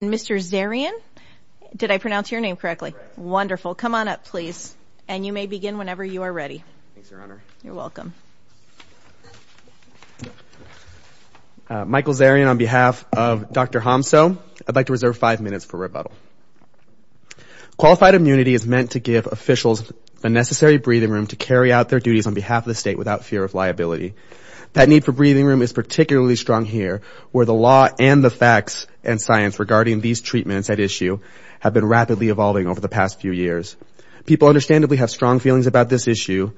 Mr. Zarian, did I pronounce your name correctly? Wonderful. Come on up, please. And you may begin whenever you are ready. You're welcome. Michael Zarian on behalf of Dr. Hamso. I'd like to reserve five minutes for rebuttal. Qualified immunity is meant to give officials the necessary breathing room to carry out their duties on behalf of the state without fear of liability. That need for breathing room is particularly strong here, where the law and the facts and science regarding these treatments at issue have been rapidly evolving over the past few years. People understandably have strong feelings about this issue,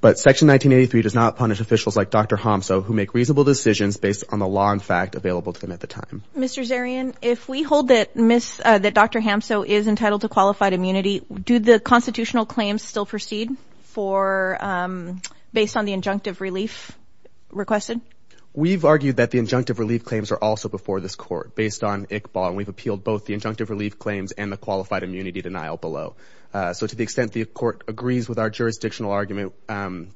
but Section 1983 does not punish officials like Dr. Hamso who make reasonable decisions based on the law and fact available to them at the time. Mr. Zarian, if we hold that Dr. Hamso is entitled to qualified immunity, do the constitutional claims still proceed based on the injunctive relief requested? We've argued that the injunctive relief claims are also before this court based on ICBAL, and we've appealed both the injunctive relief claims and the qualified immunity denial below. So to the extent the court agrees with our jurisdictional argument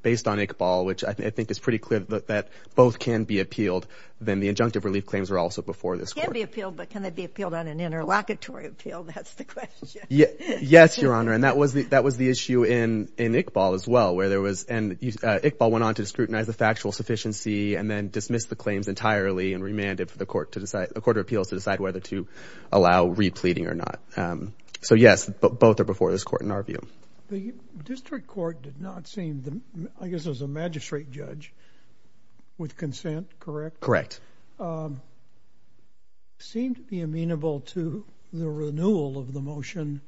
based on ICBAL, which I think is pretty clear that both can be appealed, then the injunctive relief claims are also before this court. They can be appealed, but can they be appealed on an interlocutory appeal? That's the question. Yes, Your Honor, and that was the issue in ICBAL as well, and ICBAL went on to scrutinize the factual sufficiency and then dismissed the claims entirely and remanded for the Court of Appeals to decide whether to allow repleting or not. So, yes, both are before this court in our view. The district court did not seem, I guess, as a magistrate judge, with consent, correct? Seemed to be amenable to the renewal of the motion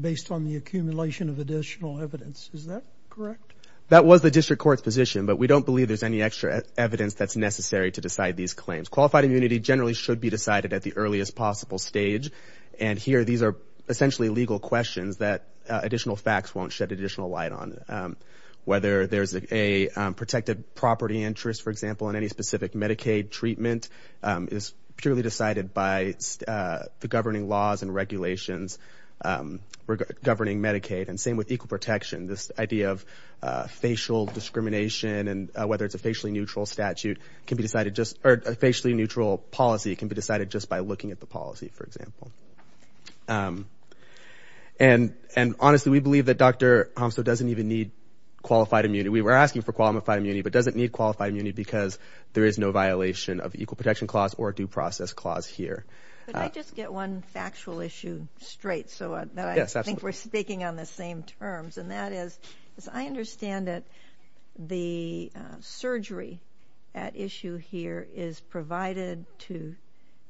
based on the accumulation of additional evidence. Is that correct? That was the district court's position, but we don't believe there's any extra evidence that's necessary to decide these claims. Qualified immunity generally should be decided at the earliest possible stage, and here these are essentially legal questions that additional facts won't shed additional light on. Whether there's a protected property interest, for example, in any specific Medicaid treatment is purely decided by the governing laws and regulations governing Medicaid, and same with equal protection. This idea of facial discrimination and whether it's a facially neutral statute can be decided just, or a facially neutral policy can be decided just by looking at the policy, for example. And honestly, we believe that Dr. Homsa doesn't even need qualified immunity. We were asking for qualified immunity, but doesn't need qualified immunity because there is no violation of the Equal Protection Clause or Due Process Clause here. Could I just get one factual issue straight so that I think we're speaking on the same terms, and that is I understand that the surgery at issue here is provided to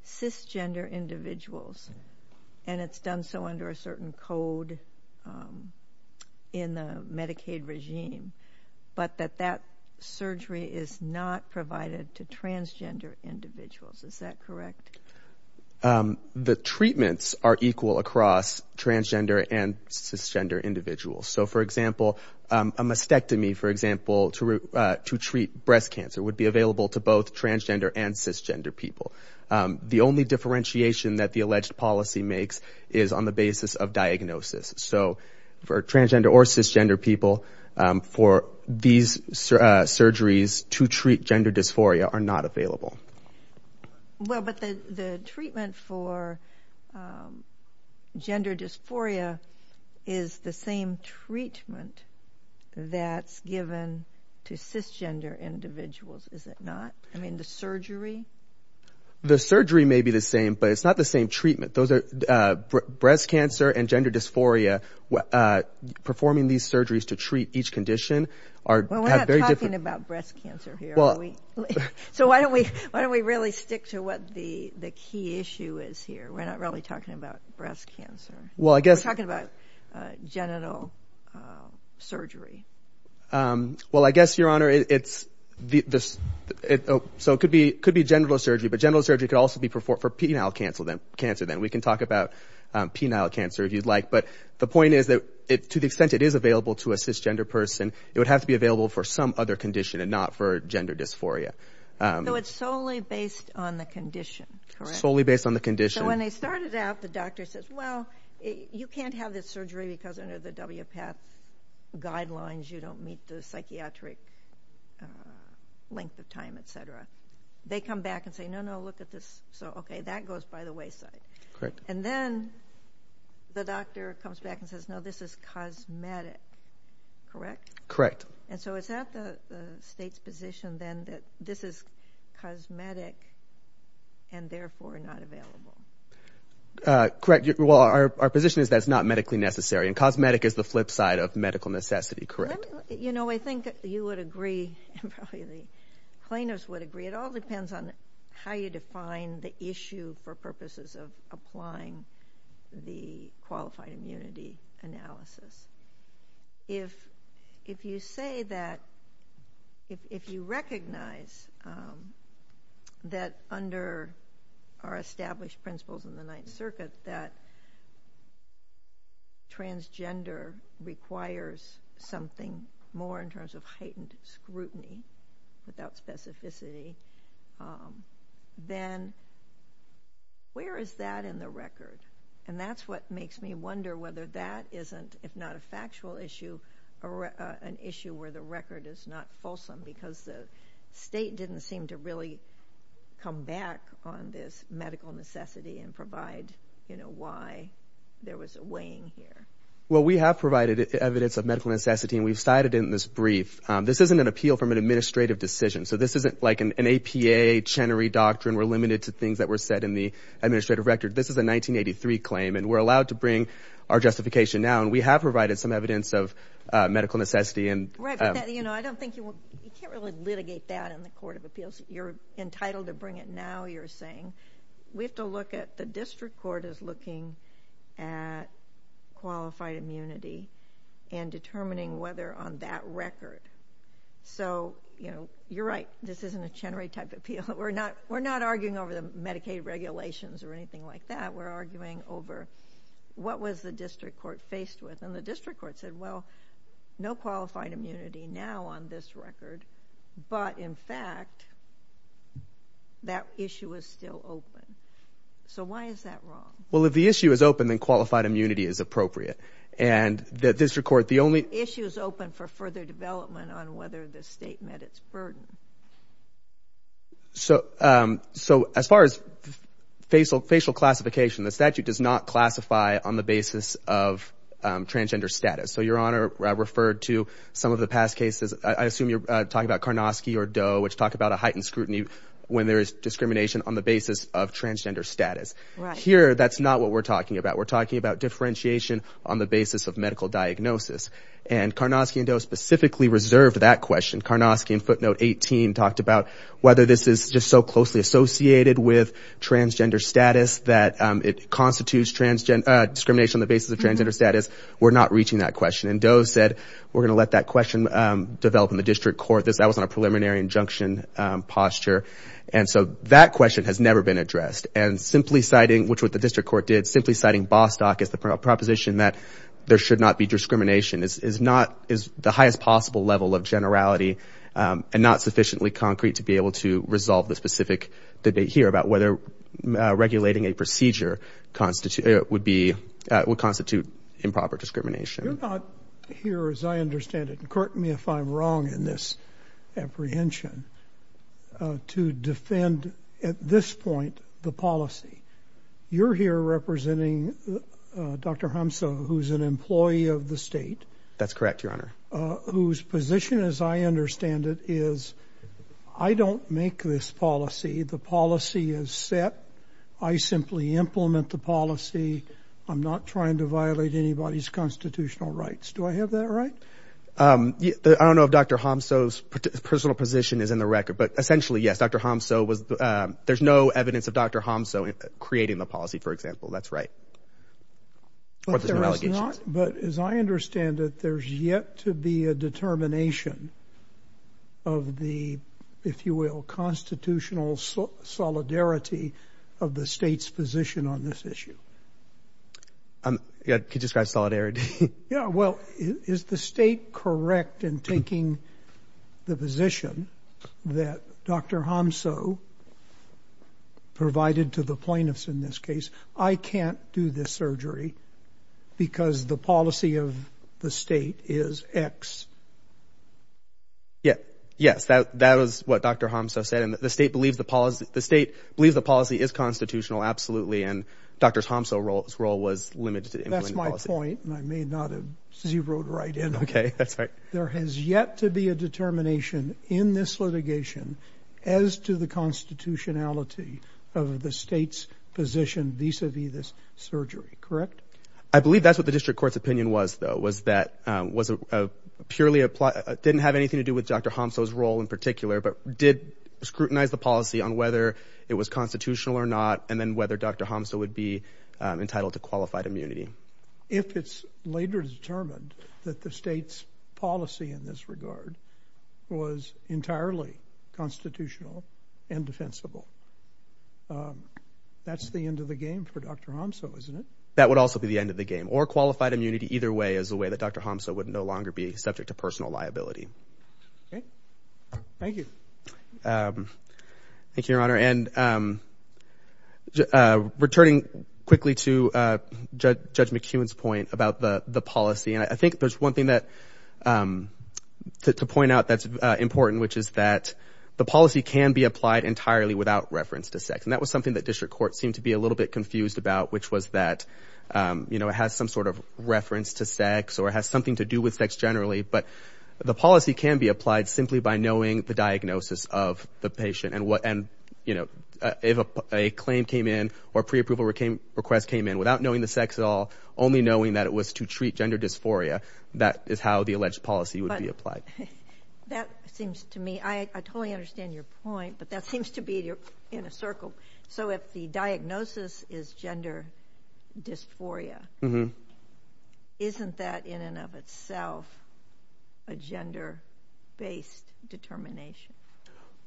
cisgender individuals, and it's done so under a certain code in the Medicaid regime, but that that surgery is not provided to transgender individuals. Is that correct? The treatments are equal across transgender and cisgender individuals. So, for example, a mastectomy, for example, to treat breast cancer would be available to both transgender and cisgender people. The only differentiation that the alleged policy makes is on the basis of diagnosis. So for transgender or cisgender people, for these surgeries to treat gender dysphoria are not available. Well, but the treatment for gender dysphoria is the same treatment that's given to cisgender individuals, is it not? I mean, the surgery? The surgery may be the same, but it's not the same treatment. Breast cancer and gender dysphoria, performing these surgeries to treat each condition are very different. Well, we're not talking about breast cancer here, are we? So why don't we really stick to what the key issue is here? We're not really talking about breast cancer. We're talking about genital surgery. Well, I guess, Your Honor, it's this. So it could be genital surgery, but genital surgery could also be for penile cancer then. We can talk about penile cancer if you'd like. But the point is that to the extent it is available to a cisgender person, it would have to be available for some other condition and not for gender dysphoria. So it's solely based on the condition, correct? Solely based on the condition. So when they started out, the doctor says, well, you can't have this surgery because under the WPATH guidelines, you don't meet the psychiatric length of time, etc. They come back and say, no, no, look at this. So, okay, that goes by the wayside. And then the doctor comes back and says, no, this is cosmetic, correct? Correct. And so is that the state's position then that this is cosmetic and therefore not available? Correct. Well, our position is that it's not medically necessary, and cosmetic is the flip side of medical necessity, correct? You know, I think you would agree and probably the plaintiffs would agree, it all depends on how you define the issue for purposes of applying the qualified immunity analysis. If you say that, if you recognize that under our established principles in the Ninth Circuit that transgender requires something more in terms of heightened scrutiny without specificity, then where is that in the record? And that's what makes me wonder whether that isn't, if not a factual issue, an issue where the record is not fulsome because the state didn't seem to really come back on this medical necessity and provide, you know, why there was a weighing here. Well, we have provided evidence of medical necessity, and we've cited it in this brief. This isn't an appeal from an administrative decision. So this isn't like an APA, Chenery Doctrine, we're limited to things that were said in the administrative record. This is a 1983 claim, and we're allowed to bring our justification now, and we have provided some evidence of medical necessity. Right, but I don't think you can really litigate that in the Court of Appeals. You're entitled to bring it now, you're saying. We have to look at the district court as looking at qualified immunity and determining whether on that record. So, you know, you're right. This isn't a Chenery type appeal. We're not arguing over the Medicaid regulations or anything like that. We're arguing over what was the district court faced with. And the district court said, well, no qualified immunity now on this record, but, in fact, that issue is still open. So why is that wrong? Well, if the issue is open, then qualified immunity is appropriate. And the district court, the only... The issue is open for further development on whether the state met its burden. So as far as facial classification, the statute does not classify on the basis of transgender status. So Your Honor referred to some of the past cases. I assume you're talking about Karnosky or Doe, which talk about a heightened scrutiny when there is discrimination on the basis of transgender status. Here, that's not what we're talking about. We're talking about differentiation on the basis of medical diagnosis. And Karnosky and Doe specifically reserved that question. Karnosky in footnote 18 talked about whether this is just so closely associated with transgender status that it constitutes discrimination on the basis of transgender status. We're not reaching that question. And Doe said, we're going to let that question develop in the district court. That was on a preliminary injunction posture. And so that question has never been addressed. And simply citing, which is what the district court did, simply citing Bostock as the proposition that there should not be discrimination is not the highest possible level of generality and not sufficiently concrete to be able to resolve the specific debate here about whether regulating a procedure would constitute improper discrimination. You're not here, as I understand it, and correct me if I'm wrong in this apprehension, to defend at this point the policy. You're here representing Dr. Hamsa, who's an employee of the state. That's correct, Your Honor. Whose position, as I understand it, is I don't make this policy. The policy is set. I simply implement the policy. I'm not trying to violate anybody's constitutional rights. Do I have that right? I don't know if Dr. Hamsa's personal position is in the record, but essentially, yes, Dr. Hamsa was the ‑‑ there's no evidence of Dr. Hamsa creating the policy, for example. That's right. But there's no allegations. But as I understand it, there's yet to be a determination of the, if you will, constitutional solidarity of the state's position on this issue. Could you describe solidarity? Yeah, well, is the state correct in taking the position that Dr. Hamsa provided to the plaintiffs in this case? I can't do this surgery because the policy of the state is X. Yes, that was what Dr. Hamsa said, and the state believes the policy is constitutional, absolutely, and Dr. Hamsa's role was limited to implementing the policy. That's my point, and I may not have zeroed right in. Okay, that's right. There has yet to be a determination in this litigation as to the constitutionality of the state's position vis‑a‑vis this surgery. I believe that's what the district court's opinion was, though, was that it didn't have anything to do with Dr. Hamsa's role in particular but did scrutinize the policy on whether it was constitutional or not and then whether Dr. Hamsa would be entitled to qualified immunity. If it's later determined that the state's policy in this regard was entirely constitutional and defensible, that's the end of the game for Dr. Hamsa, isn't it? That would also be the end of the game, or qualified immunity either way is a way that Dr. Hamsa would no longer be subject to personal liability. Okay, thank you. Thank you, Your Honor, and returning quickly to Judge McEwen's point about the policy, and I think there's one thing to point out that's important, which is that the policy can be applied entirely without reference to sex, and that was something that district court seemed to be a little bit confused about, which was that it has some sort of reference to sex or it has something to do with sex generally, but the policy can be applied simply by knowing the diagnosis of the patient and if a claim came in or a preapproval request came in without knowing the sex at all, only knowing that it was to treat gender dysphoria, that is how the alleged policy would be applied. That seems to me, I totally understand your point, but that seems to be in a circle. So if the diagnosis is gender dysphoria, isn't that in and of itself a gender-based determination?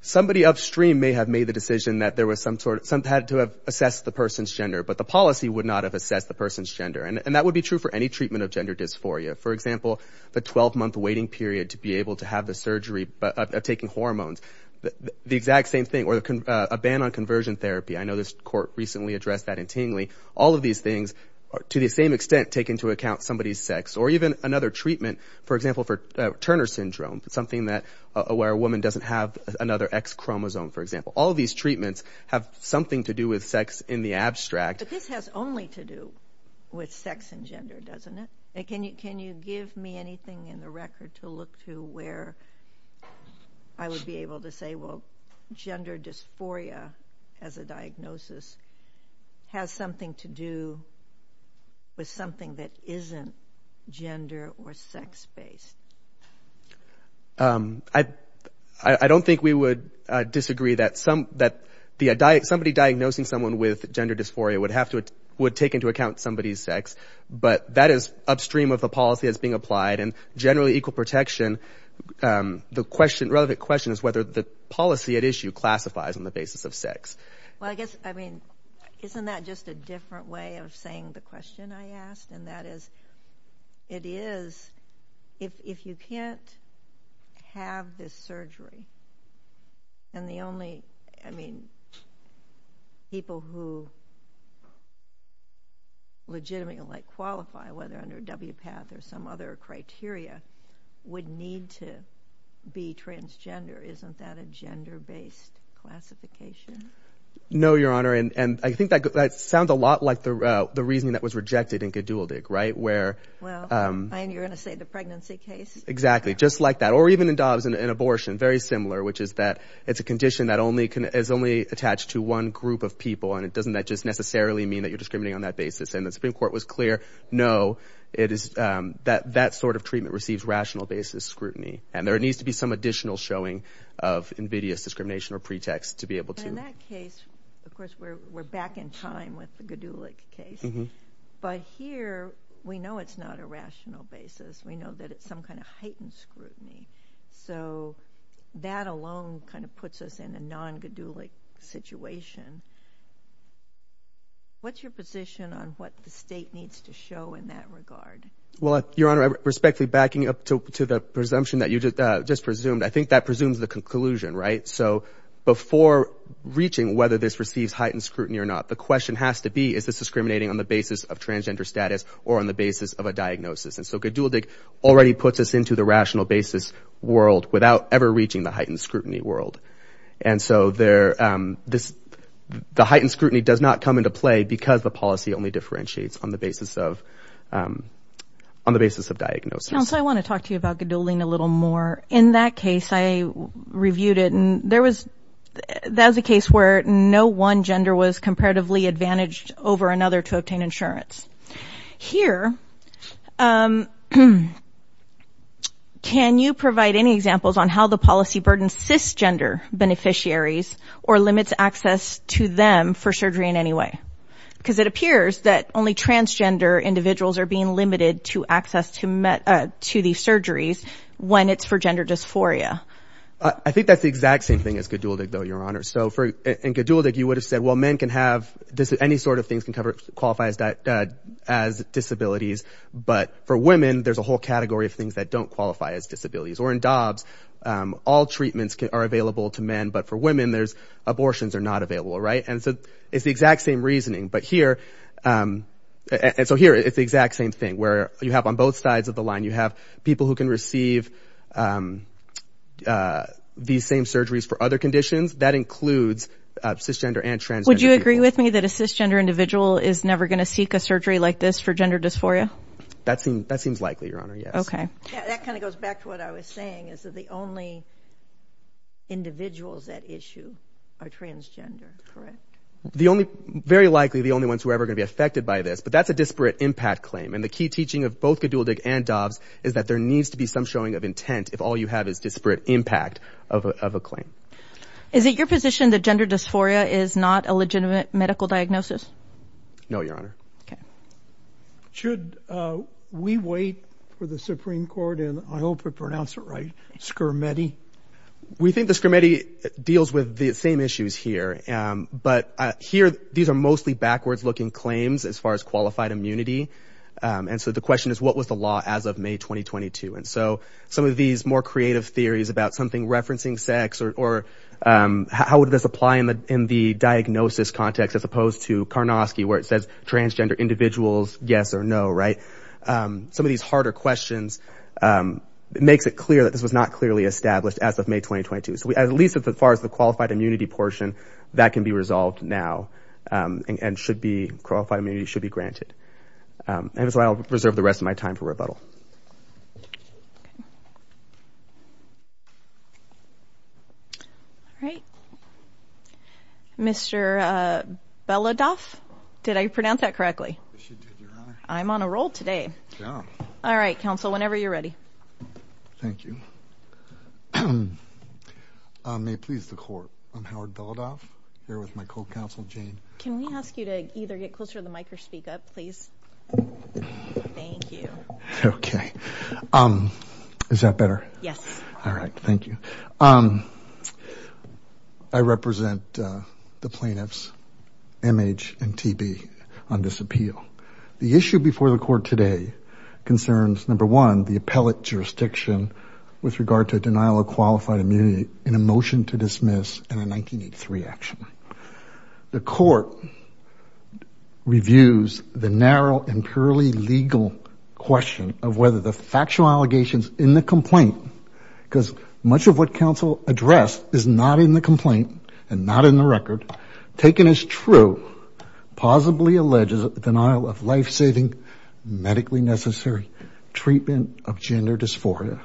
Somebody upstream may have made the decision that there was some sort of, had to have assessed the person's gender, but the policy would not have assessed the person's gender, and that would be true for any treatment of gender dysphoria. For example, the 12-month waiting period to be able to have the surgery, taking hormones, the exact same thing, or a ban on conversion therapy. I know this court recently addressed that in Tingley. All of these things to the same extent take into account somebody's sex or even another treatment, for example, for Turner syndrome, something where a woman doesn't have another X chromosome, for example. All of these treatments have something to do with sex in the abstract. But this has only to do with sex and gender, doesn't it? Can you give me anything in the record to look to where I would be able to say, well, gender dysphoria as a diagnosis has something to do with something that isn't gender or sex-based? I don't think we would disagree that somebody diagnosing someone with gender dysphoria would take into account somebody's sex, but that is upstream of the policy that's being applied. And generally, equal protection, the relevant question is whether the policy at issue classifies on the basis of sex. Well, I guess, I mean, isn't that just a different way of saying the question I asked? And that is, it is, if you can't have this surgery, and the only, I mean, people who legitimately qualify, whether under WPATH or some other criteria, would need to be transgender. Isn't that a gender-based classification? No, Your Honor, and I think that sounds a lot like the reasoning that was rejected in Guduldig, right? Well, and you're going to say the pregnancy case? Exactly, just like that, or even in Dobbs in abortion, very similar, which is that it's a condition that is only attached to one group of people, and doesn't that just necessarily mean that you're discriminating on that basis? And the Supreme Court was clear, no, that sort of treatment receives rational basis scrutiny, and there needs to be some additional showing of invidious discrimination or pretext to be able to. Well, in that case, of course, we're back in time with the Guduldig case. But here, we know it's not a rational basis. We know that it's some kind of heightened scrutiny. So that alone kind of puts us in a non-Guduldig situation. What's your position on what the State needs to show in that regard? Well, Your Honor, respectfully backing up to the presumption that you just presumed, I think that presumes the conclusion, right? So before reaching whether this receives heightened scrutiny or not, the question has to be, is this discriminating on the basis of transgender status or on the basis of a diagnosis? And so Guduldig already puts us into the rational basis world without ever reaching the heightened scrutiny world. And so the heightened scrutiny does not come into play because the policy only differentiates on the basis of diagnosis. Counsel, I want to talk to you about Guduldig a little more. In that case, I reviewed it, and that was a case where no one gender was comparatively advantaged over another to obtain insurance. Here, can you provide any examples on how the policy burdens cisgender beneficiaries or limits access to them for surgery in any way? Because it appears that only transgender individuals are being limited to access to these surgeries when it's for gender dysphoria. I think that's the exact same thing as Guduldig, though, Your Honor. So in Guduldig, you would have said, well, men can have any sort of things can qualify as disabilities, but for women, there's a whole category of things that don't qualify as disabilities. Or in Dobbs, all treatments are available to men, but for women, abortions are not available, right? And so it's the exact same reasoning. But here, and so here, it's the exact same thing, where you have on both sides of the line, you have people who can receive these same surgeries for other conditions. That includes cisgender and transgender people. Would you agree with me that a cisgender individual is never going to seek a surgery like this for gender dysphoria? That seems likely, Your Honor, yes. Okay. That kind of goes back to what I was saying, is that the only individuals at issue are transgender, correct? The only, very likely, the only ones who are ever going to be affected by this, but that's a disparate impact claim, and the key teaching of both Guduldig and Dobbs is that there needs to be some showing of intent if all you have is disparate impact of a claim. Is it your position that gender dysphoria is not a legitimate medical diagnosis? No, Your Honor. Okay. Should we wait for the Supreme Court, and I hope I pronounce it right, Skirmeti? We think the Skirmeti deals with the same issues here, but here these are mostly backwards-looking claims as far as qualified immunity, and so the question is, what was the law as of May 2022? And so some of these more creative theories about something referencing sex or how would this apply in the diagnosis context as opposed to Karnofsky where it says transgender individuals, yes or no, right? Some of these harder questions makes it clear that this was not clearly established as of May 2022. So at least as far as the qualified immunity portion, that can be resolved now and should be, qualified immunity should be granted. And so I'll reserve the rest of my time for rebuttal. All right. Mr. Beledoff, did I pronounce that correctly? Yes, you did, Your Honor. I'm on a roll today. Good job. All right, counsel, whenever you're ready. Thank you. May it please the court. I'm Howard Beledoff here with my co-counsel, Jane. Can we ask you to either get closer to the mic or speak up, please? Thank you. Okay. Is that better? Yes. All right. Thank you. I represent the plaintiffs, MH and TB, on this appeal. The issue before the court today concerns, number one, the appellate jurisdiction with regard to denial of qualified immunity in a motion to dismiss in a 1983 action. The court reviews the narrow and purely legal question of whether the factual allegations in the complaint, because much of what counsel addressed is not in the complaint and not in the record, taken as true, plausibly alleges a denial of life-saving, medically necessary treatment of gender dysphoria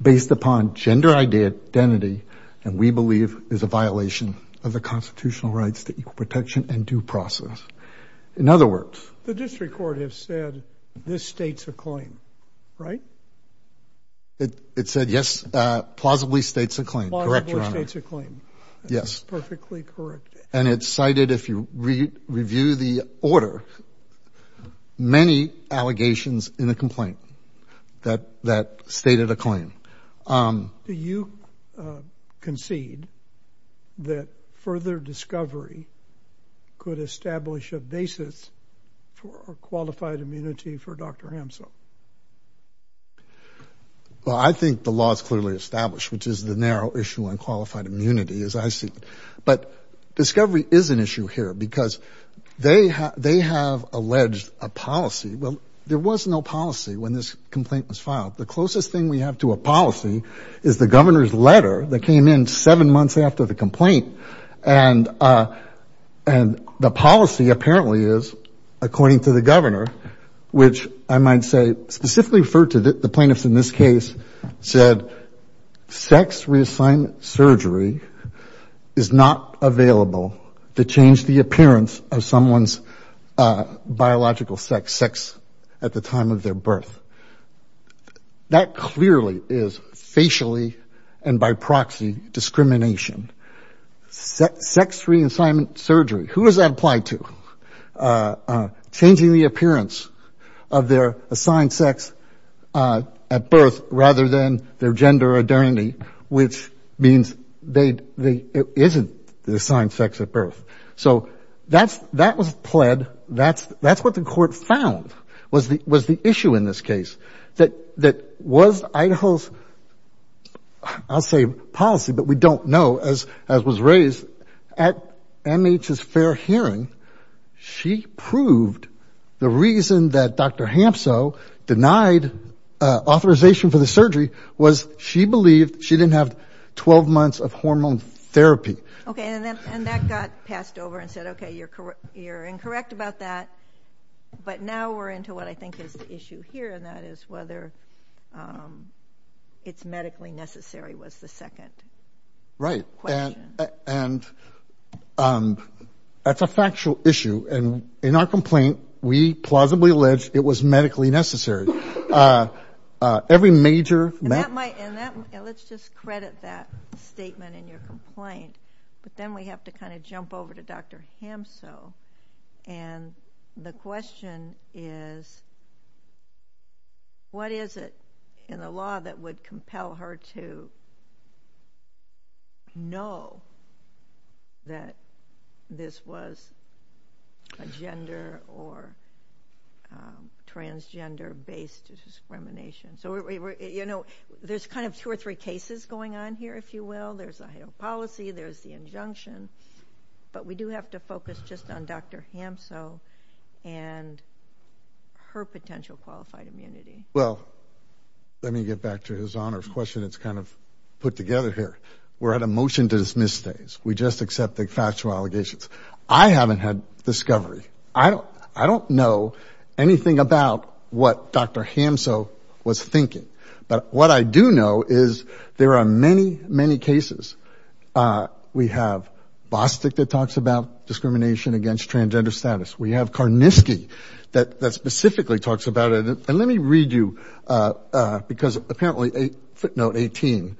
based upon gender identity, and we believe is a violation of the constitutional rights to equal protection and due process. In other words. The district court has said this states a claim, right? It said, yes, plausibly states a claim. Correct, Your Honor. Plausibly states a claim. Yes. That's perfectly correct. And it cited, if you review the order, many allegations in the complaint that stated a claim. Do you concede that further discovery could establish a basis for qualified immunity for Dr. Hamsel? Well, I think the law is clearly established, which is the narrow issue on qualified immunity, as I see it. But discovery is an issue here because they have alleged a policy. Well, there was no policy when this complaint was filed. The closest thing we have to a policy is the governor's letter that came in seven months after the complaint. And the policy apparently is, according to the governor, which I might say specifically referred to the plaintiffs in this case, said sex reassignment surgery is not available to change the appearance of someone's biological sex, sex at the time of their birth. That clearly is facially and by proxy discrimination. Sex reassignment surgery, who does that apply to? Changing the appearance of their assigned sex at birth rather than their gender or identity, which means it isn't the assigned sex at birth. So that was pled. That's what the Court found was the issue in this case, that was Idaho's, I'll say, policy, but we don't know, as was raised. At MH's fair hearing, she proved the reason that Dr. Hamso denied authorization for the surgery was she believed she didn't have 12 months of hormone therapy. And that got passed over and said, okay, you're incorrect about that, but now we're into what I think is the issue here, and that is whether it's medically necessary was the second question. Right. And that's a factual issue. And in our complaint, we plausibly allege it was medically necessary. Every major medical. And let's just credit that statement in your complaint, but then we have to kind of jump over to Dr. Hamso. And the question is what is it in the law that would compel her to know that this was a gender or transgender-based discrimination? So, you know, there's kind of two or three cases going on here, if you will. There's Idaho policy. There's the injunction. But we do have to focus just on Dr. Hamso and her potential qualified immunity. Well, let me get back to his honors question. It's kind of put together here. We're at a motion-to-dismiss phase. We just accept the factual allegations. I haven't had discovery. I don't know anything about what Dr. Hamso was thinking. But what I do know is there are many, many cases. We have Bostic that talks about discrimination against transgender status. We have Karnisky that specifically talks about it. And let me read you, because apparently footnote 18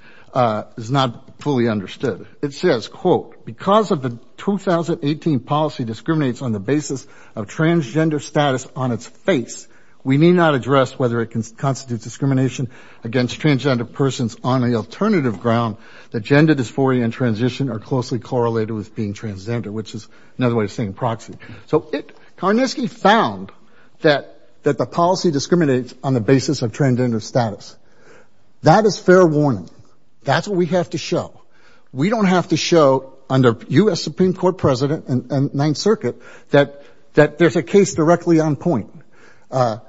is not fully understood. It says, quote, because of the 2018 policy discriminates on the basis of transgender status on its face, we need not address whether it constitutes discrimination against transgender persons on the alternative ground that gender dysphoria and transition are closely correlated with being transgender, which is another way of saying proxy. So Karnisky found that the policy discriminates on the basis of transgender status. That is fair warning. That's what we have to show. We don't have to show under U.S. Supreme Court President and Ninth Circuit that there's a case directly on point. Could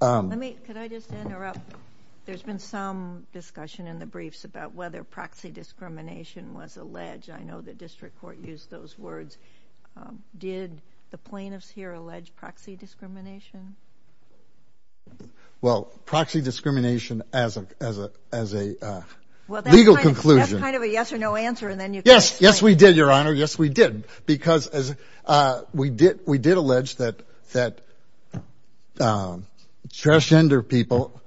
I just interrupt? There's been some discussion in the briefs about whether proxy discrimination was alleged. I know the district court used those words. Did the plaintiffs here allege proxy discrimination? Well, proxy discrimination as a legal conclusion. That's kind of a yes or no answer, and then you can explain. Yes, we did, Your Honor. Yes, we did. Because we did allege that transgender people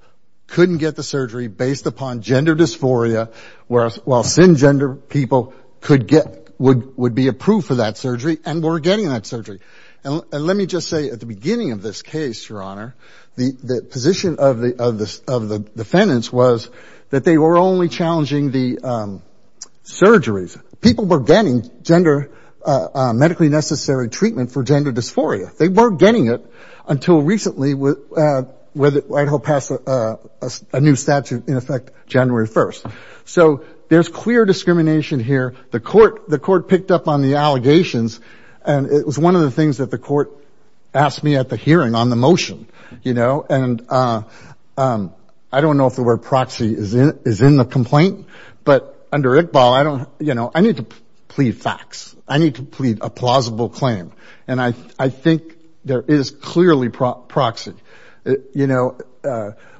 couldn't get the surgery based upon gender dysphoria, while cisgender people could get, would be approved for that surgery and were getting that surgery. And let me just say at the beginning of this case, Your Honor, the position of the defendants was that they were only challenging the surgeries. People were getting gender, medically necessary treatment for gender dysphoria. They weren't getting it until recently when Idaho passed a new statute, in effect, January 1st. So there's clear discrimination here. The court picked up on the allegations, and it was one of the things that the court asked me at the hearing on the motion. And I don't know if the word proxy is in the complaint, but under Iqbal, I need to plead facts. I need to plead a plausible claim. And I think there is clearly proxy, you know,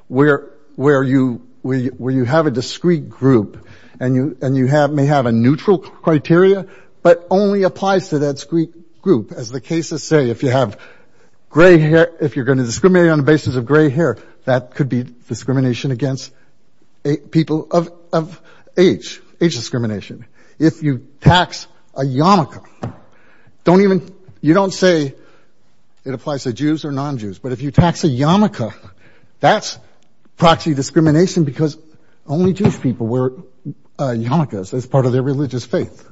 where you have a discrete group, and you may have a neutral criteria but only applies to that discrete group. As the cases say, if you have gray hair, if you're going to discriminate on the basis of gray hair, that could be discrimination against people of age, age discrimination. If you tax a yarmulke, you don't say it applies to Jews or non-Jews, but if you tax a yarmulke, that's proxy discrimination because only Jewish people wear yarmulkes as part of their religious faith.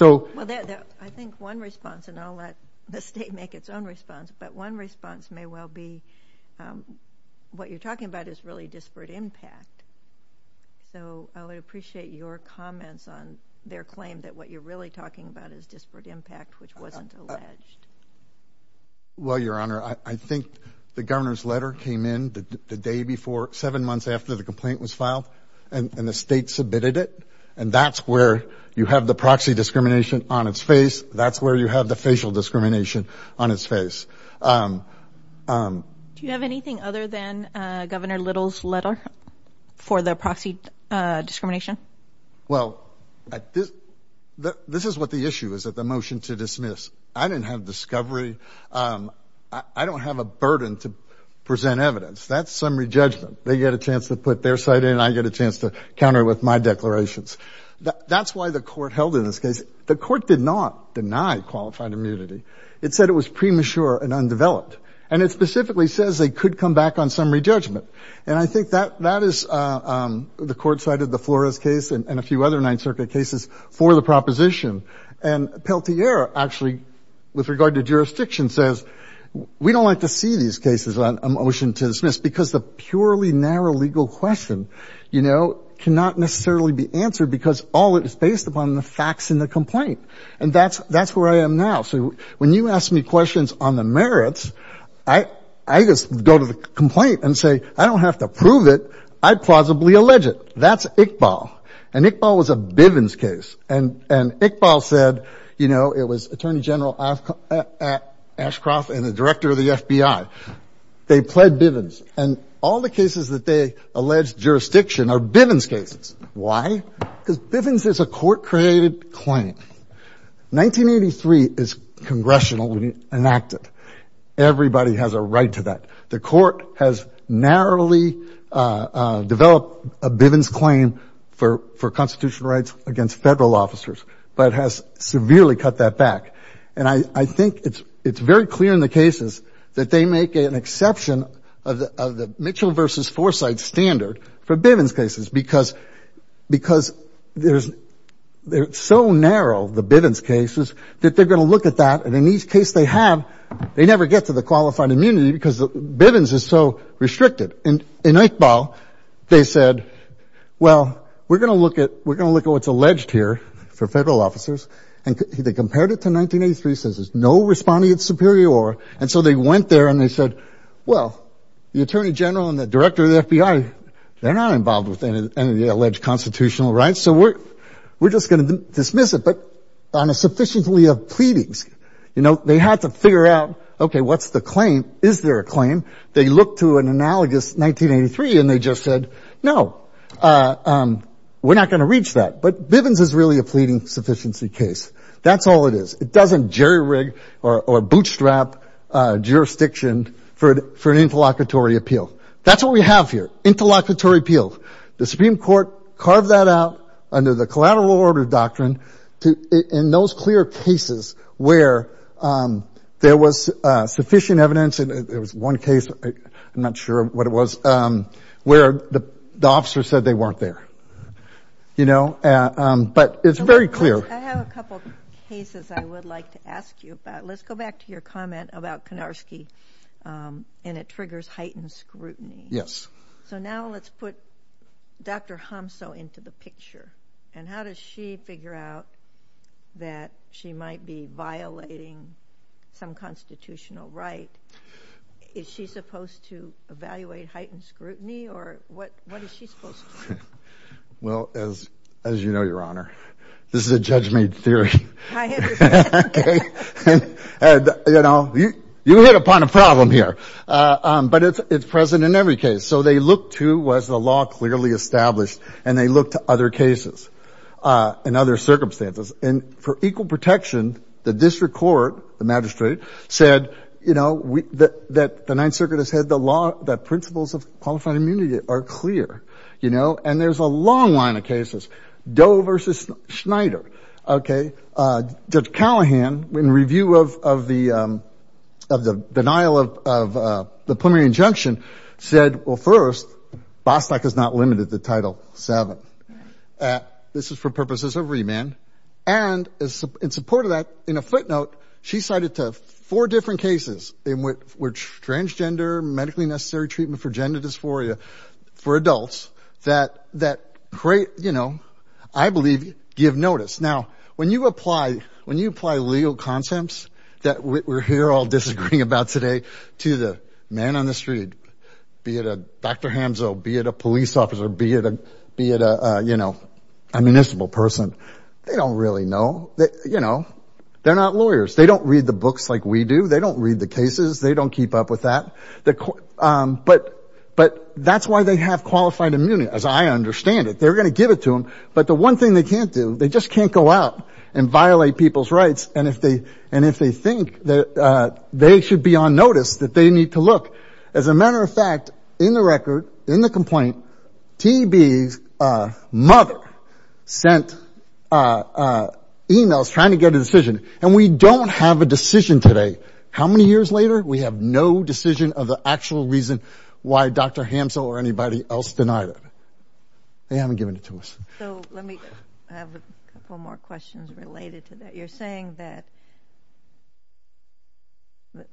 Well, I think one response, and I'll let the State make its own response, but one response may well be what you're talking about is really disparate impact. So I would appreciate your comments on their claim that what you're really talking about is disparate impact, which wasn't alleged. Well, Your Honor, I think the Governor's letter came in the day before, seven months after the complaint was filed, and the State submitted it. And that's where you have the proxy discrimination on its face. That's where you have the facial discrimination on its face. Do you have anything other than Governor Little's letter for the proxy discrimination? Well, this is what the issue is with the motion to dismiss. I didn't have discovery. I don't have a burden to present evidence. That's summary judgment. They get a chance to put their side in, and I get a chance to counter it with my declarations. That's why the court held in this case, the court did not deny qualified immunity. It said it was premature and undeveloped. And it specifically says they could come back on summary judgment. And I think that is the court side of the Flores case and a few other Ninth Circuit cases for the proposition. And Peltier actually, with regard to jurisdiction, says, we don't like to see these cases on a motion to dismiss because the purely narrow legal question, you know, cannot necessarily be answered because all it is based upon the facts in the complaint. And that's where I am now. So when you ask me questions on the merits, I just go to the complaint and say, I don't have to prove it. I plausibly allege it. That's Iqbal. And Iqbal was a Bivens case. And Iqbal said, you know, it was Attorney General Ashcroft and the director of the FBI. They pled Bivens. And all the cases that they allege jurisdiction are Bivens cases. Why? Because Bivens is a court-created claim. 1983 is congressionally enacted. Everybody has a right to that. The court has narrowly developed a Bivens claim for constitutional rights against federal officers, but has severely cut that back. And I think it's very clear in the cases that they make an exception of the Mitchell v. standard for Bivens cases because they're so narrow, the Bivens cases, that they're going to look at that. And in each case they have, they never get to the qualified immunity because Bivens is so restricted. In Iqbal, they said, well, we're going to look at what's alleged here for federal officers. And they compared it to 1983, says there's no respondent superior. And so they went there and they said, well, the attorney general and the director of the FBI, they're not involved with any of the alleged constitutional rights, so we're just going to dismiss it. But on a sufficiency of pleadings, you know, they had to figure out, okay, what's the claim? Is there a claim? They looked to an analogous 1983, and they just said, no, we're not going to reach that. But Bivens is really a pleading sufficiency case. That's all it is. It doesn't jerry-rig or bootstrap jurisdiction for an interlocutory appeal. That's what we have here, interlocutory appeal. The Supreme Court carved that out under the collateral order doctrine in those clear cases where there was sufficient evidence. There was one case, I'm not sure what it was, where the officer said they weren't there, you know. But it's very clear. I have a couple cases I would like to ask you about. Let's go back to your comment about Konarski, and it triggers heightened scrutiny. Yes. So now let's put Dr. Homsow into the picture. And how does she figure out that she might be violating some constitutional right? Is she supposed to evaluate heightened scrutiny, or what is she supposed to do? Well, as you know, Your Honor, this is a judge-made theory. I understand. Okay. And, you know, you hit upon a problem here. But it's present in every case. So they look to, was the law clearly established, and they look to other cases and other circumstances. And for equal protection, the district court, the magistrate, said, you know, that the Ninth Circuit has said the law, that principles of qualified immunity are clear, you know. And there's a long line of cases. Doe versus Schneider. Okay. Judge Callahan, in review of the denial of the preliminary injunction, said, well, first, Bostock is not limited to Title VII. This is for purposes of remand. And in support of that, in a footnote, she cited four different cases in which transgender, medically necessary treatment for gender dysphoria for adults that create, you know, I believe give notice. Now, when you apply legal concepts that we're here all disagreeing about today to the man on the street, be it a Dr. Hamsel, be it a police officer, be it a, you know, a municipal person, they don't really know. You know, they're not lawyers. They don't read the books like we do. They don't read the cases. They don't keep up with that. But that's why they have qualified immunity, as I understand it. They're going to give it to them. But the one thing they can't do, they just can't go out and violate people's rights. And if they think that they should be on notice, that they need to look. As a matter of fact, in the record, in the complaint, TB's mother sent e-mails trying to get a decision. And we don't have a decision today. How many years later, we have no decision of the actual reason why Dr. Hamsel or anybody else denied it. They haven't given it to us. So let me have a couple more questions related to that. So you're saying that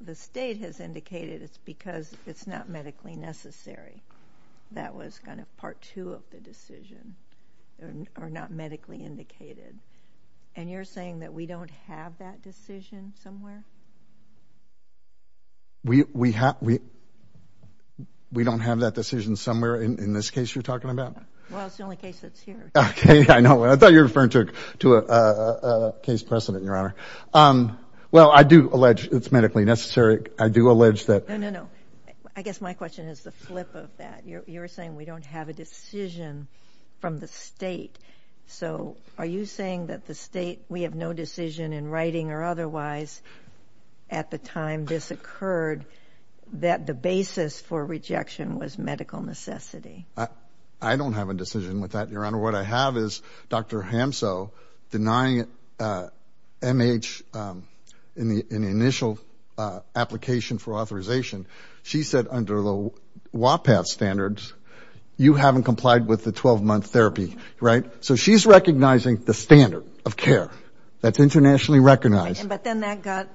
the state has indicated it's because it's not medically necessary. That was kind of part two of the decision, or not medically indicated. And you're saying that we don't have that decision somewhere? We don't have that decision somewhere in this case you're talking about? Well, it's the only case that's here. I thought you were referring to a case precedent, Your Honor. Well, I do allege it's medically necessary. I do allege that. No, no, no. I guess my question is the flip of that. You're saying we don't have a decision from the state. So are you saying that the state, we have no decision in writing or otherwise, at the time this occurred, that the basis for rejection was medical necessity? I don't have a decision with that, Your Honor. What I have is Dr. Hamsel denying MH in the initial application for authorization. She said under the WAPATH standards, you haven't complied with the 12-month therapy, right? So she's recognizing the standard of care that's internationally recognized. But then that got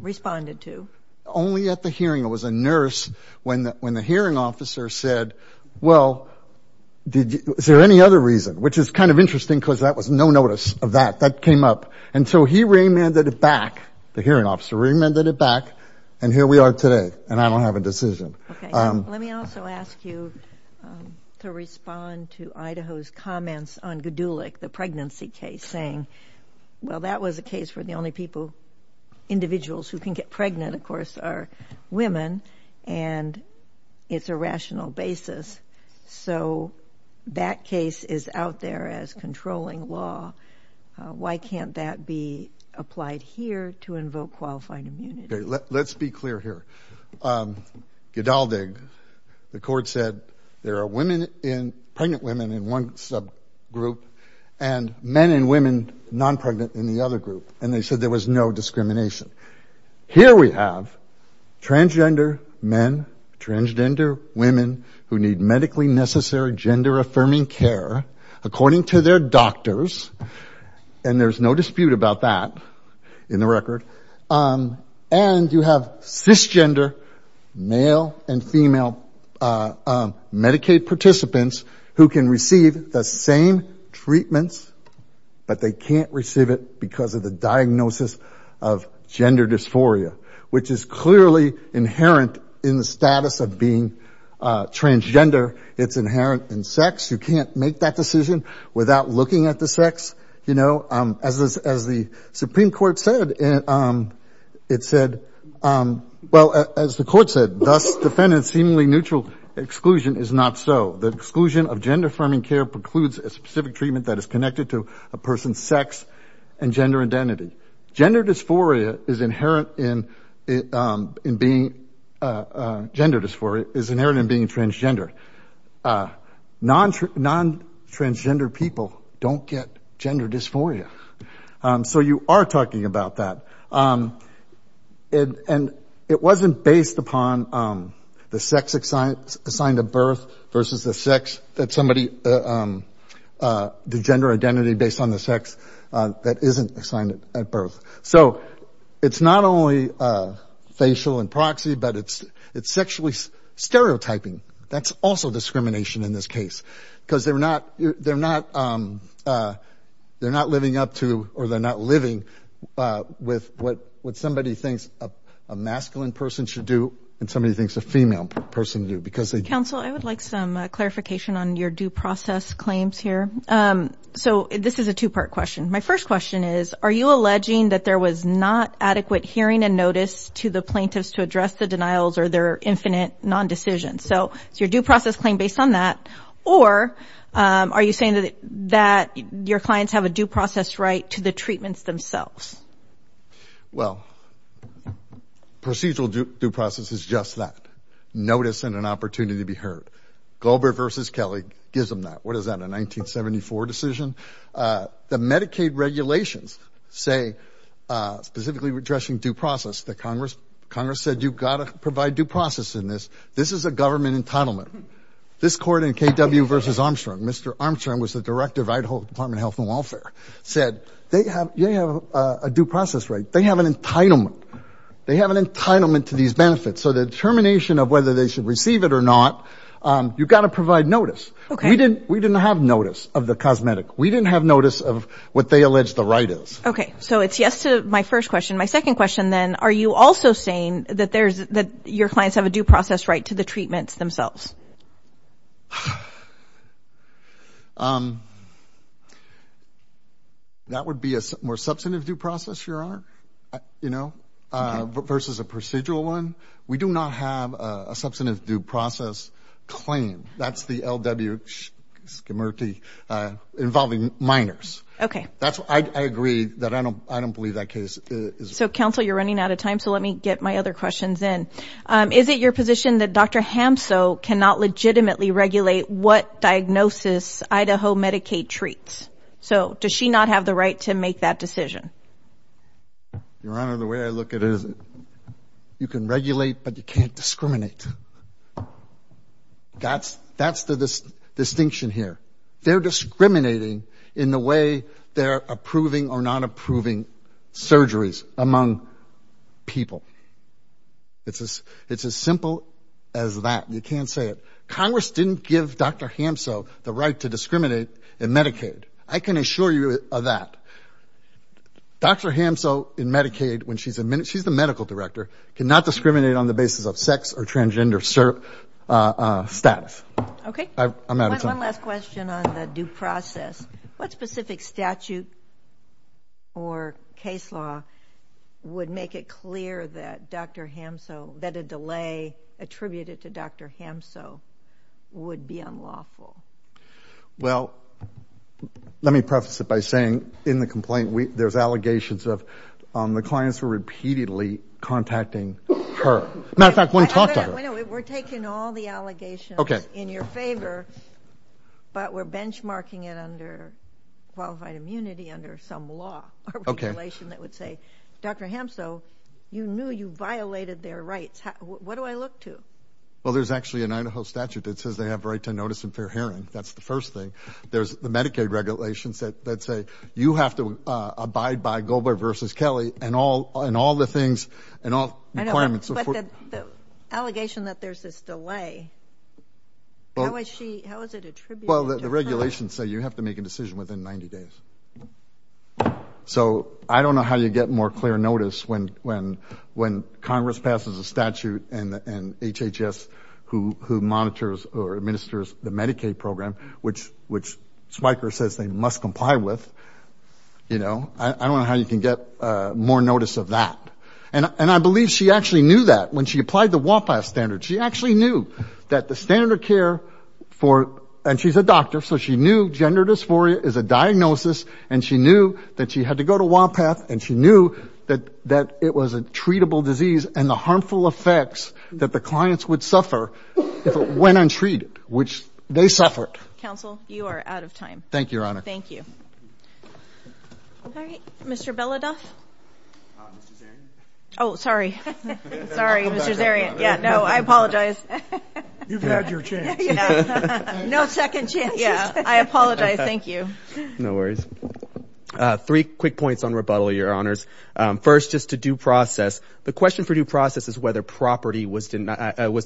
responded to. Only at the hearing, it was a nurse, when the hearing officer said, well, is there any other reason? Which is kind of interesting because that was no notice of that. That came up. And so he re-mandated it back, the hearing officer re-mandated it back, and here we are today, and I don't have a decision. Let me also ask you to respond to Idaho's comments on Gudulik, the pregnancy case, saying, well, that was a case where the only people, individuals who can get pregnant, of course, are women, and it's a rational basis, so that case is out there as controlling law. Why can't that be applied here to invoke qualifying immunity? Let's be clear here. In the case of Gudulik, the court said there are pregnant women in one subgroup and men and women non-pregnant in the other group, and they said there was no discrimination. Here we have transgender men, transgender women who need medically necessary gender-affirming care, according to their doctors, and there's no dispute about that in the record, and you have cisgender male and female Medicaid participants who can receive the same treatments, but they can't receive it because of the diagnosis of gender dysphoria, which is clearly inherent in the status of being transgender. It's inherent in sex. You can't make that decision without looking at the sex. You know, as the Supreme Court said, it said, well, as the court said, thus defendant's seemingly neutral exclusion is not so. The exclusion of gender-affirming care precludes a specific treatment that is connected to a person's sex and gender identity. Gender dysphoria is inherent in being transgender. Non-transgender people don't get gender dysphoria. So you are talking about that. And it wasn't based upon the sex assigned at birth versus the sex that somebody, the gender identity based on the sex that isn't assigned at birth. So it's not only facial and proxy, but it's sexually stereotyping. That's also discrimination in this case because they're not living up to or they're not living with what somebody thinks a masculine person should do and somebody thinks a female person should do. Counsel, I would like some clarification on your due process claims here. So this is a two-part question. My first question is, are you alleging that there was not adequate hearing and notice to the plaintiffs to address the denials or their infinite non-decision? So it's your due process claim based on that. Or are you saying that your clients have a due process right to the treatments themselves? Well, procedural due process is just that, notice and an opportunity to be heard. Goldberg v. Kelly gives them that. What is that, a 1974 decision? The Medicaid regulations say, specifically addressing due process, that Congress said you've got to provide due process in this. This is a government entitlement. This court in KW v. Armstrong, Mr. Armstrong was the director of Idaho Department of Health and Welfare, said they have a due process right. They have an entitlement. They have an entitlement to these benefits. So the determination of whether they should receive it or not, you've got to provide notice. Okay. We didn't have notice of the cosmetic. We didn't have notice of what they allege the right is. Okay. So it's yes to my first question. My second question then, are you also saying that your clients have a due process right to the treatments themselves? That would be a more substantive due process, Your Honor, you know, versus a procedural one. We do not have a substantive due process claim. That's the LW Schmerti involving minors. Okay. I agree that I don't believe that case. So, Counsel, you're running out of time, so let me get my other questions in. Is it your position that Dr. Hamso cannot legitimately regulate what diagnosis Idaho Medicaid treats? So does she not have the right to make that decision? Your Honor, the way I look at it is you can regulate, but you can't discriminate. That's the distinction here. They're discriminating in the way they're approving or not approving surgeries among people. It's as simple as that. You can't say it. Congress didn't give Dr. Hamso the right to discriminate in Medicaid. I can assure you of that. Dr. Hamso in Medicaid, when she's the medical director, cannot discriminate on the basis of sex or transgender status. Okay. One last question on the due process. What specific statute or case law would make it clear that Dr. Hamso, that a delay attributed to Dr. Hamso would be unlawful? Well, let me preface it by saying in the complaint there's allegations of the clients were repeatedly contacting her. As a matter of fact, wouldn't talk to her. We're taking all the allegations in your favor, but we're benchmarking it under qualified immunity under some law or regulation that would say, Dr. Hamso, you knew you violated their rights. What do I look to? Well, there's actually an Idaho statute that says they have a right to notice and fair hearing. That's the first thing. There's the Medicaid regulations that say you have to abide by Goldberg v. Kelly and all the things and all requirements. But the allegation that there's this delay, how is she, how is it attributed to her? Well, the regulations say you have to make a decision within 90 days. So I don't know how you get more clear notice when Congress passes a statute and HHS, who monitors or administers the Medicaid program, which Spiker says they must comply with, you know. I don't know how you can get more notice of that. And I believe she actually knew that when she applied the WOMPATH standard. She actually knew that the standard of care for, and she's a doctor, so she knew gender dysphoria is a diagnosis, and she knew that she had to go to WOMPATH and she knew that it was a treatable disease and the harmful effects that the clients would suffer if it went untreated, which they suffered. Counsel, you are out of time. Thank you, Your Honor. Thank you. All right. Mr. Beledoff. Mr. Zarian. Oh, sorry. Sorry, Mr. Zarian. Yeah, no, I apologize. You've had your chance. No second chances. I apologize. Thank you. No worries. Three quick points on rebuttal, Your Honors. First, just to due process. The question for due process is whether property was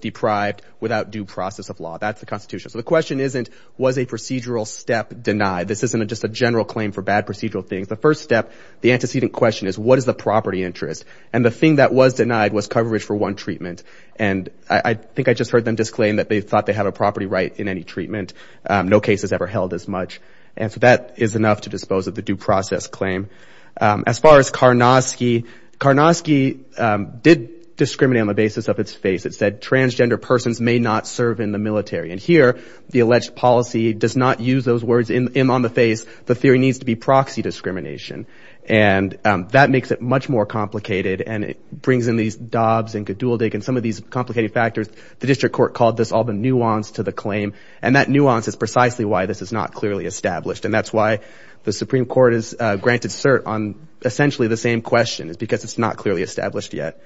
deprived without due process of law. That's the Constitution. So the question isn't was a procedural step denied. This isn't just a general claim for bad procedural things. The first step, the antecedent question is what is the property interest? And the thing that was denied was coverage for one treatment. And I think I just heard them disclaim that they thought they had a property right in any treatment. No case has ever held as much. And so that is enough to dispose of the due process claim. As far as Karnosky, Karnosky did discriminate on the basis of its face. It said transgender persons may not serve in the military. And here, the alleged policy does not use those words, in on the face, the theory needs to be proxy discrimination. And that makes it much more complicated. And it brings in these dobs and gaduldig and some of these complicated factors. The district court called this all the nuance to the claim. And that nuance is precisely why this is not clearly established. And that's why the Supreme Court has granted cert on essentially the same question. It's because it's not clearly established yet.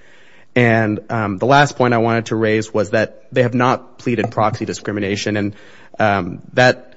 And the last point I wanted to raise was that they have not pleaded proxy discrimination. And that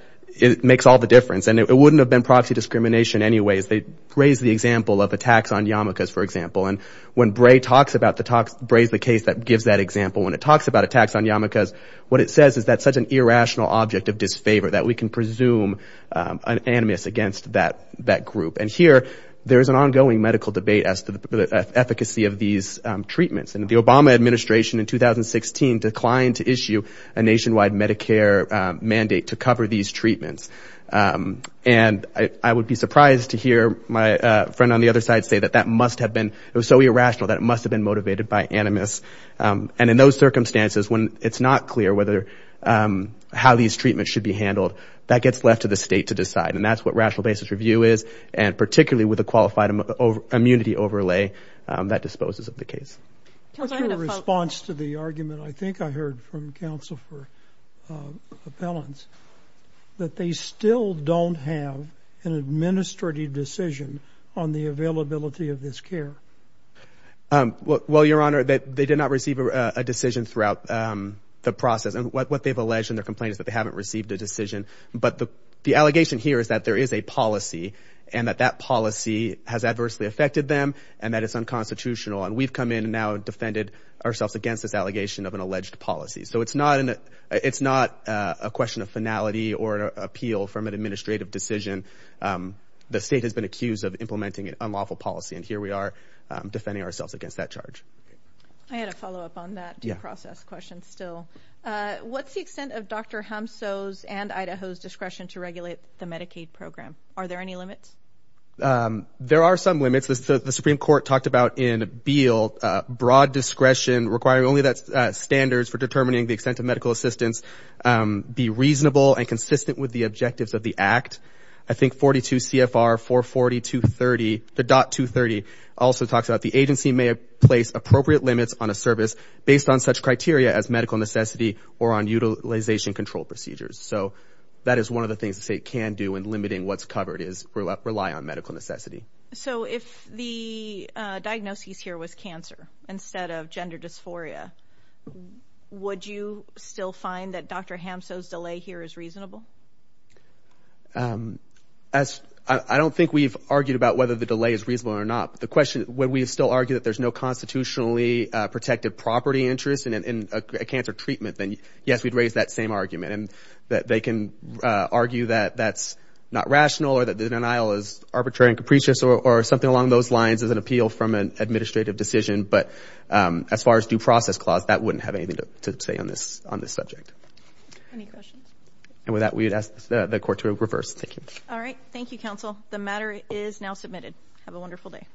makes all the difference. And it wouldn't have been proxy discrimination anyways. They raised the example of attacks on yarmulkes, for example. And when Bray talks about the talks, Bray is the case that gives that example. When it talks about attacks on yarmulkes, what it says is that such an irrational object of disfavor, that we can presume animus against that group. And here, there is an ongoing medical debate as to the efficacy of these treatments. And the Obama administration in 2016 declined to issue a nationwide Medicare mandate to cover these treatments. And I would be surprised to hear my friend on the other side say that that must have been, it was so irrational that it must have been motivated by animus. And in those circumstances, when it's not clear how these treatments should be handled, that gets left to the state to decide. And that's what rational basis review is, and particularly with a qualified immunity overlay that disposes of the case. What's your response to the argument, I think I heard from counsel for appellants, that they still don't have an administrative decision on the availability of this care? Well, Your Honor, they did not receive a decision throughout the process. And what they've alleged in their complaint is that they haven't received a decision. But the allegation here is that there is a policy, and that that policy has adversely affected them, and that it's unconstitutional. And we've come in now and defended ourselves against this allegation of an alleged policy. So it's not a question of finality or appeal from an administrative decision. The state has been accused of implementing an unlawful policy, and here we are defending ourselves against that charge. I had a follow-up on that due process question still. What's the extent of Dr. Hamso's and Idaho's discretion to regulate the Medicaid program? Are there any limits? There are some limits. The Supreme Court talked about in Beale broad discretion requiring only that standards for determining the extent of medical assistance be reasonable and consistent with the objectives of the Act. I think 42 CFR 440.230, the dot 230, also talks about the agency may place appropriate limits on a service based on such criteria as medical necessity or on utilization control procedures. So that is one of the things the state can do in limiting what's covered, is rely on medical necessity. So if the diagnosis here was cancer instead of gender dysphoria, would you still find that Dr. Hamso's delay here is reasonable? I don't think we've argued about whether the delay is reasonable or not. The question, would we still argue that there's no constitutionally protective property interest in a cancer treatment? Yes, we'd raise that same argument, and that they can argue that that's not rational or that the denial is arbitrary and capricious or something along those lines is an appeal from an administrative decision. But as far as due process clause, that wouldn't have anything to say on this subject. Any questions? And with that, we would ask the Court to reverse. Thank you. All right. Thank you, counsel. The matter is now submitted. Have a wonderful day.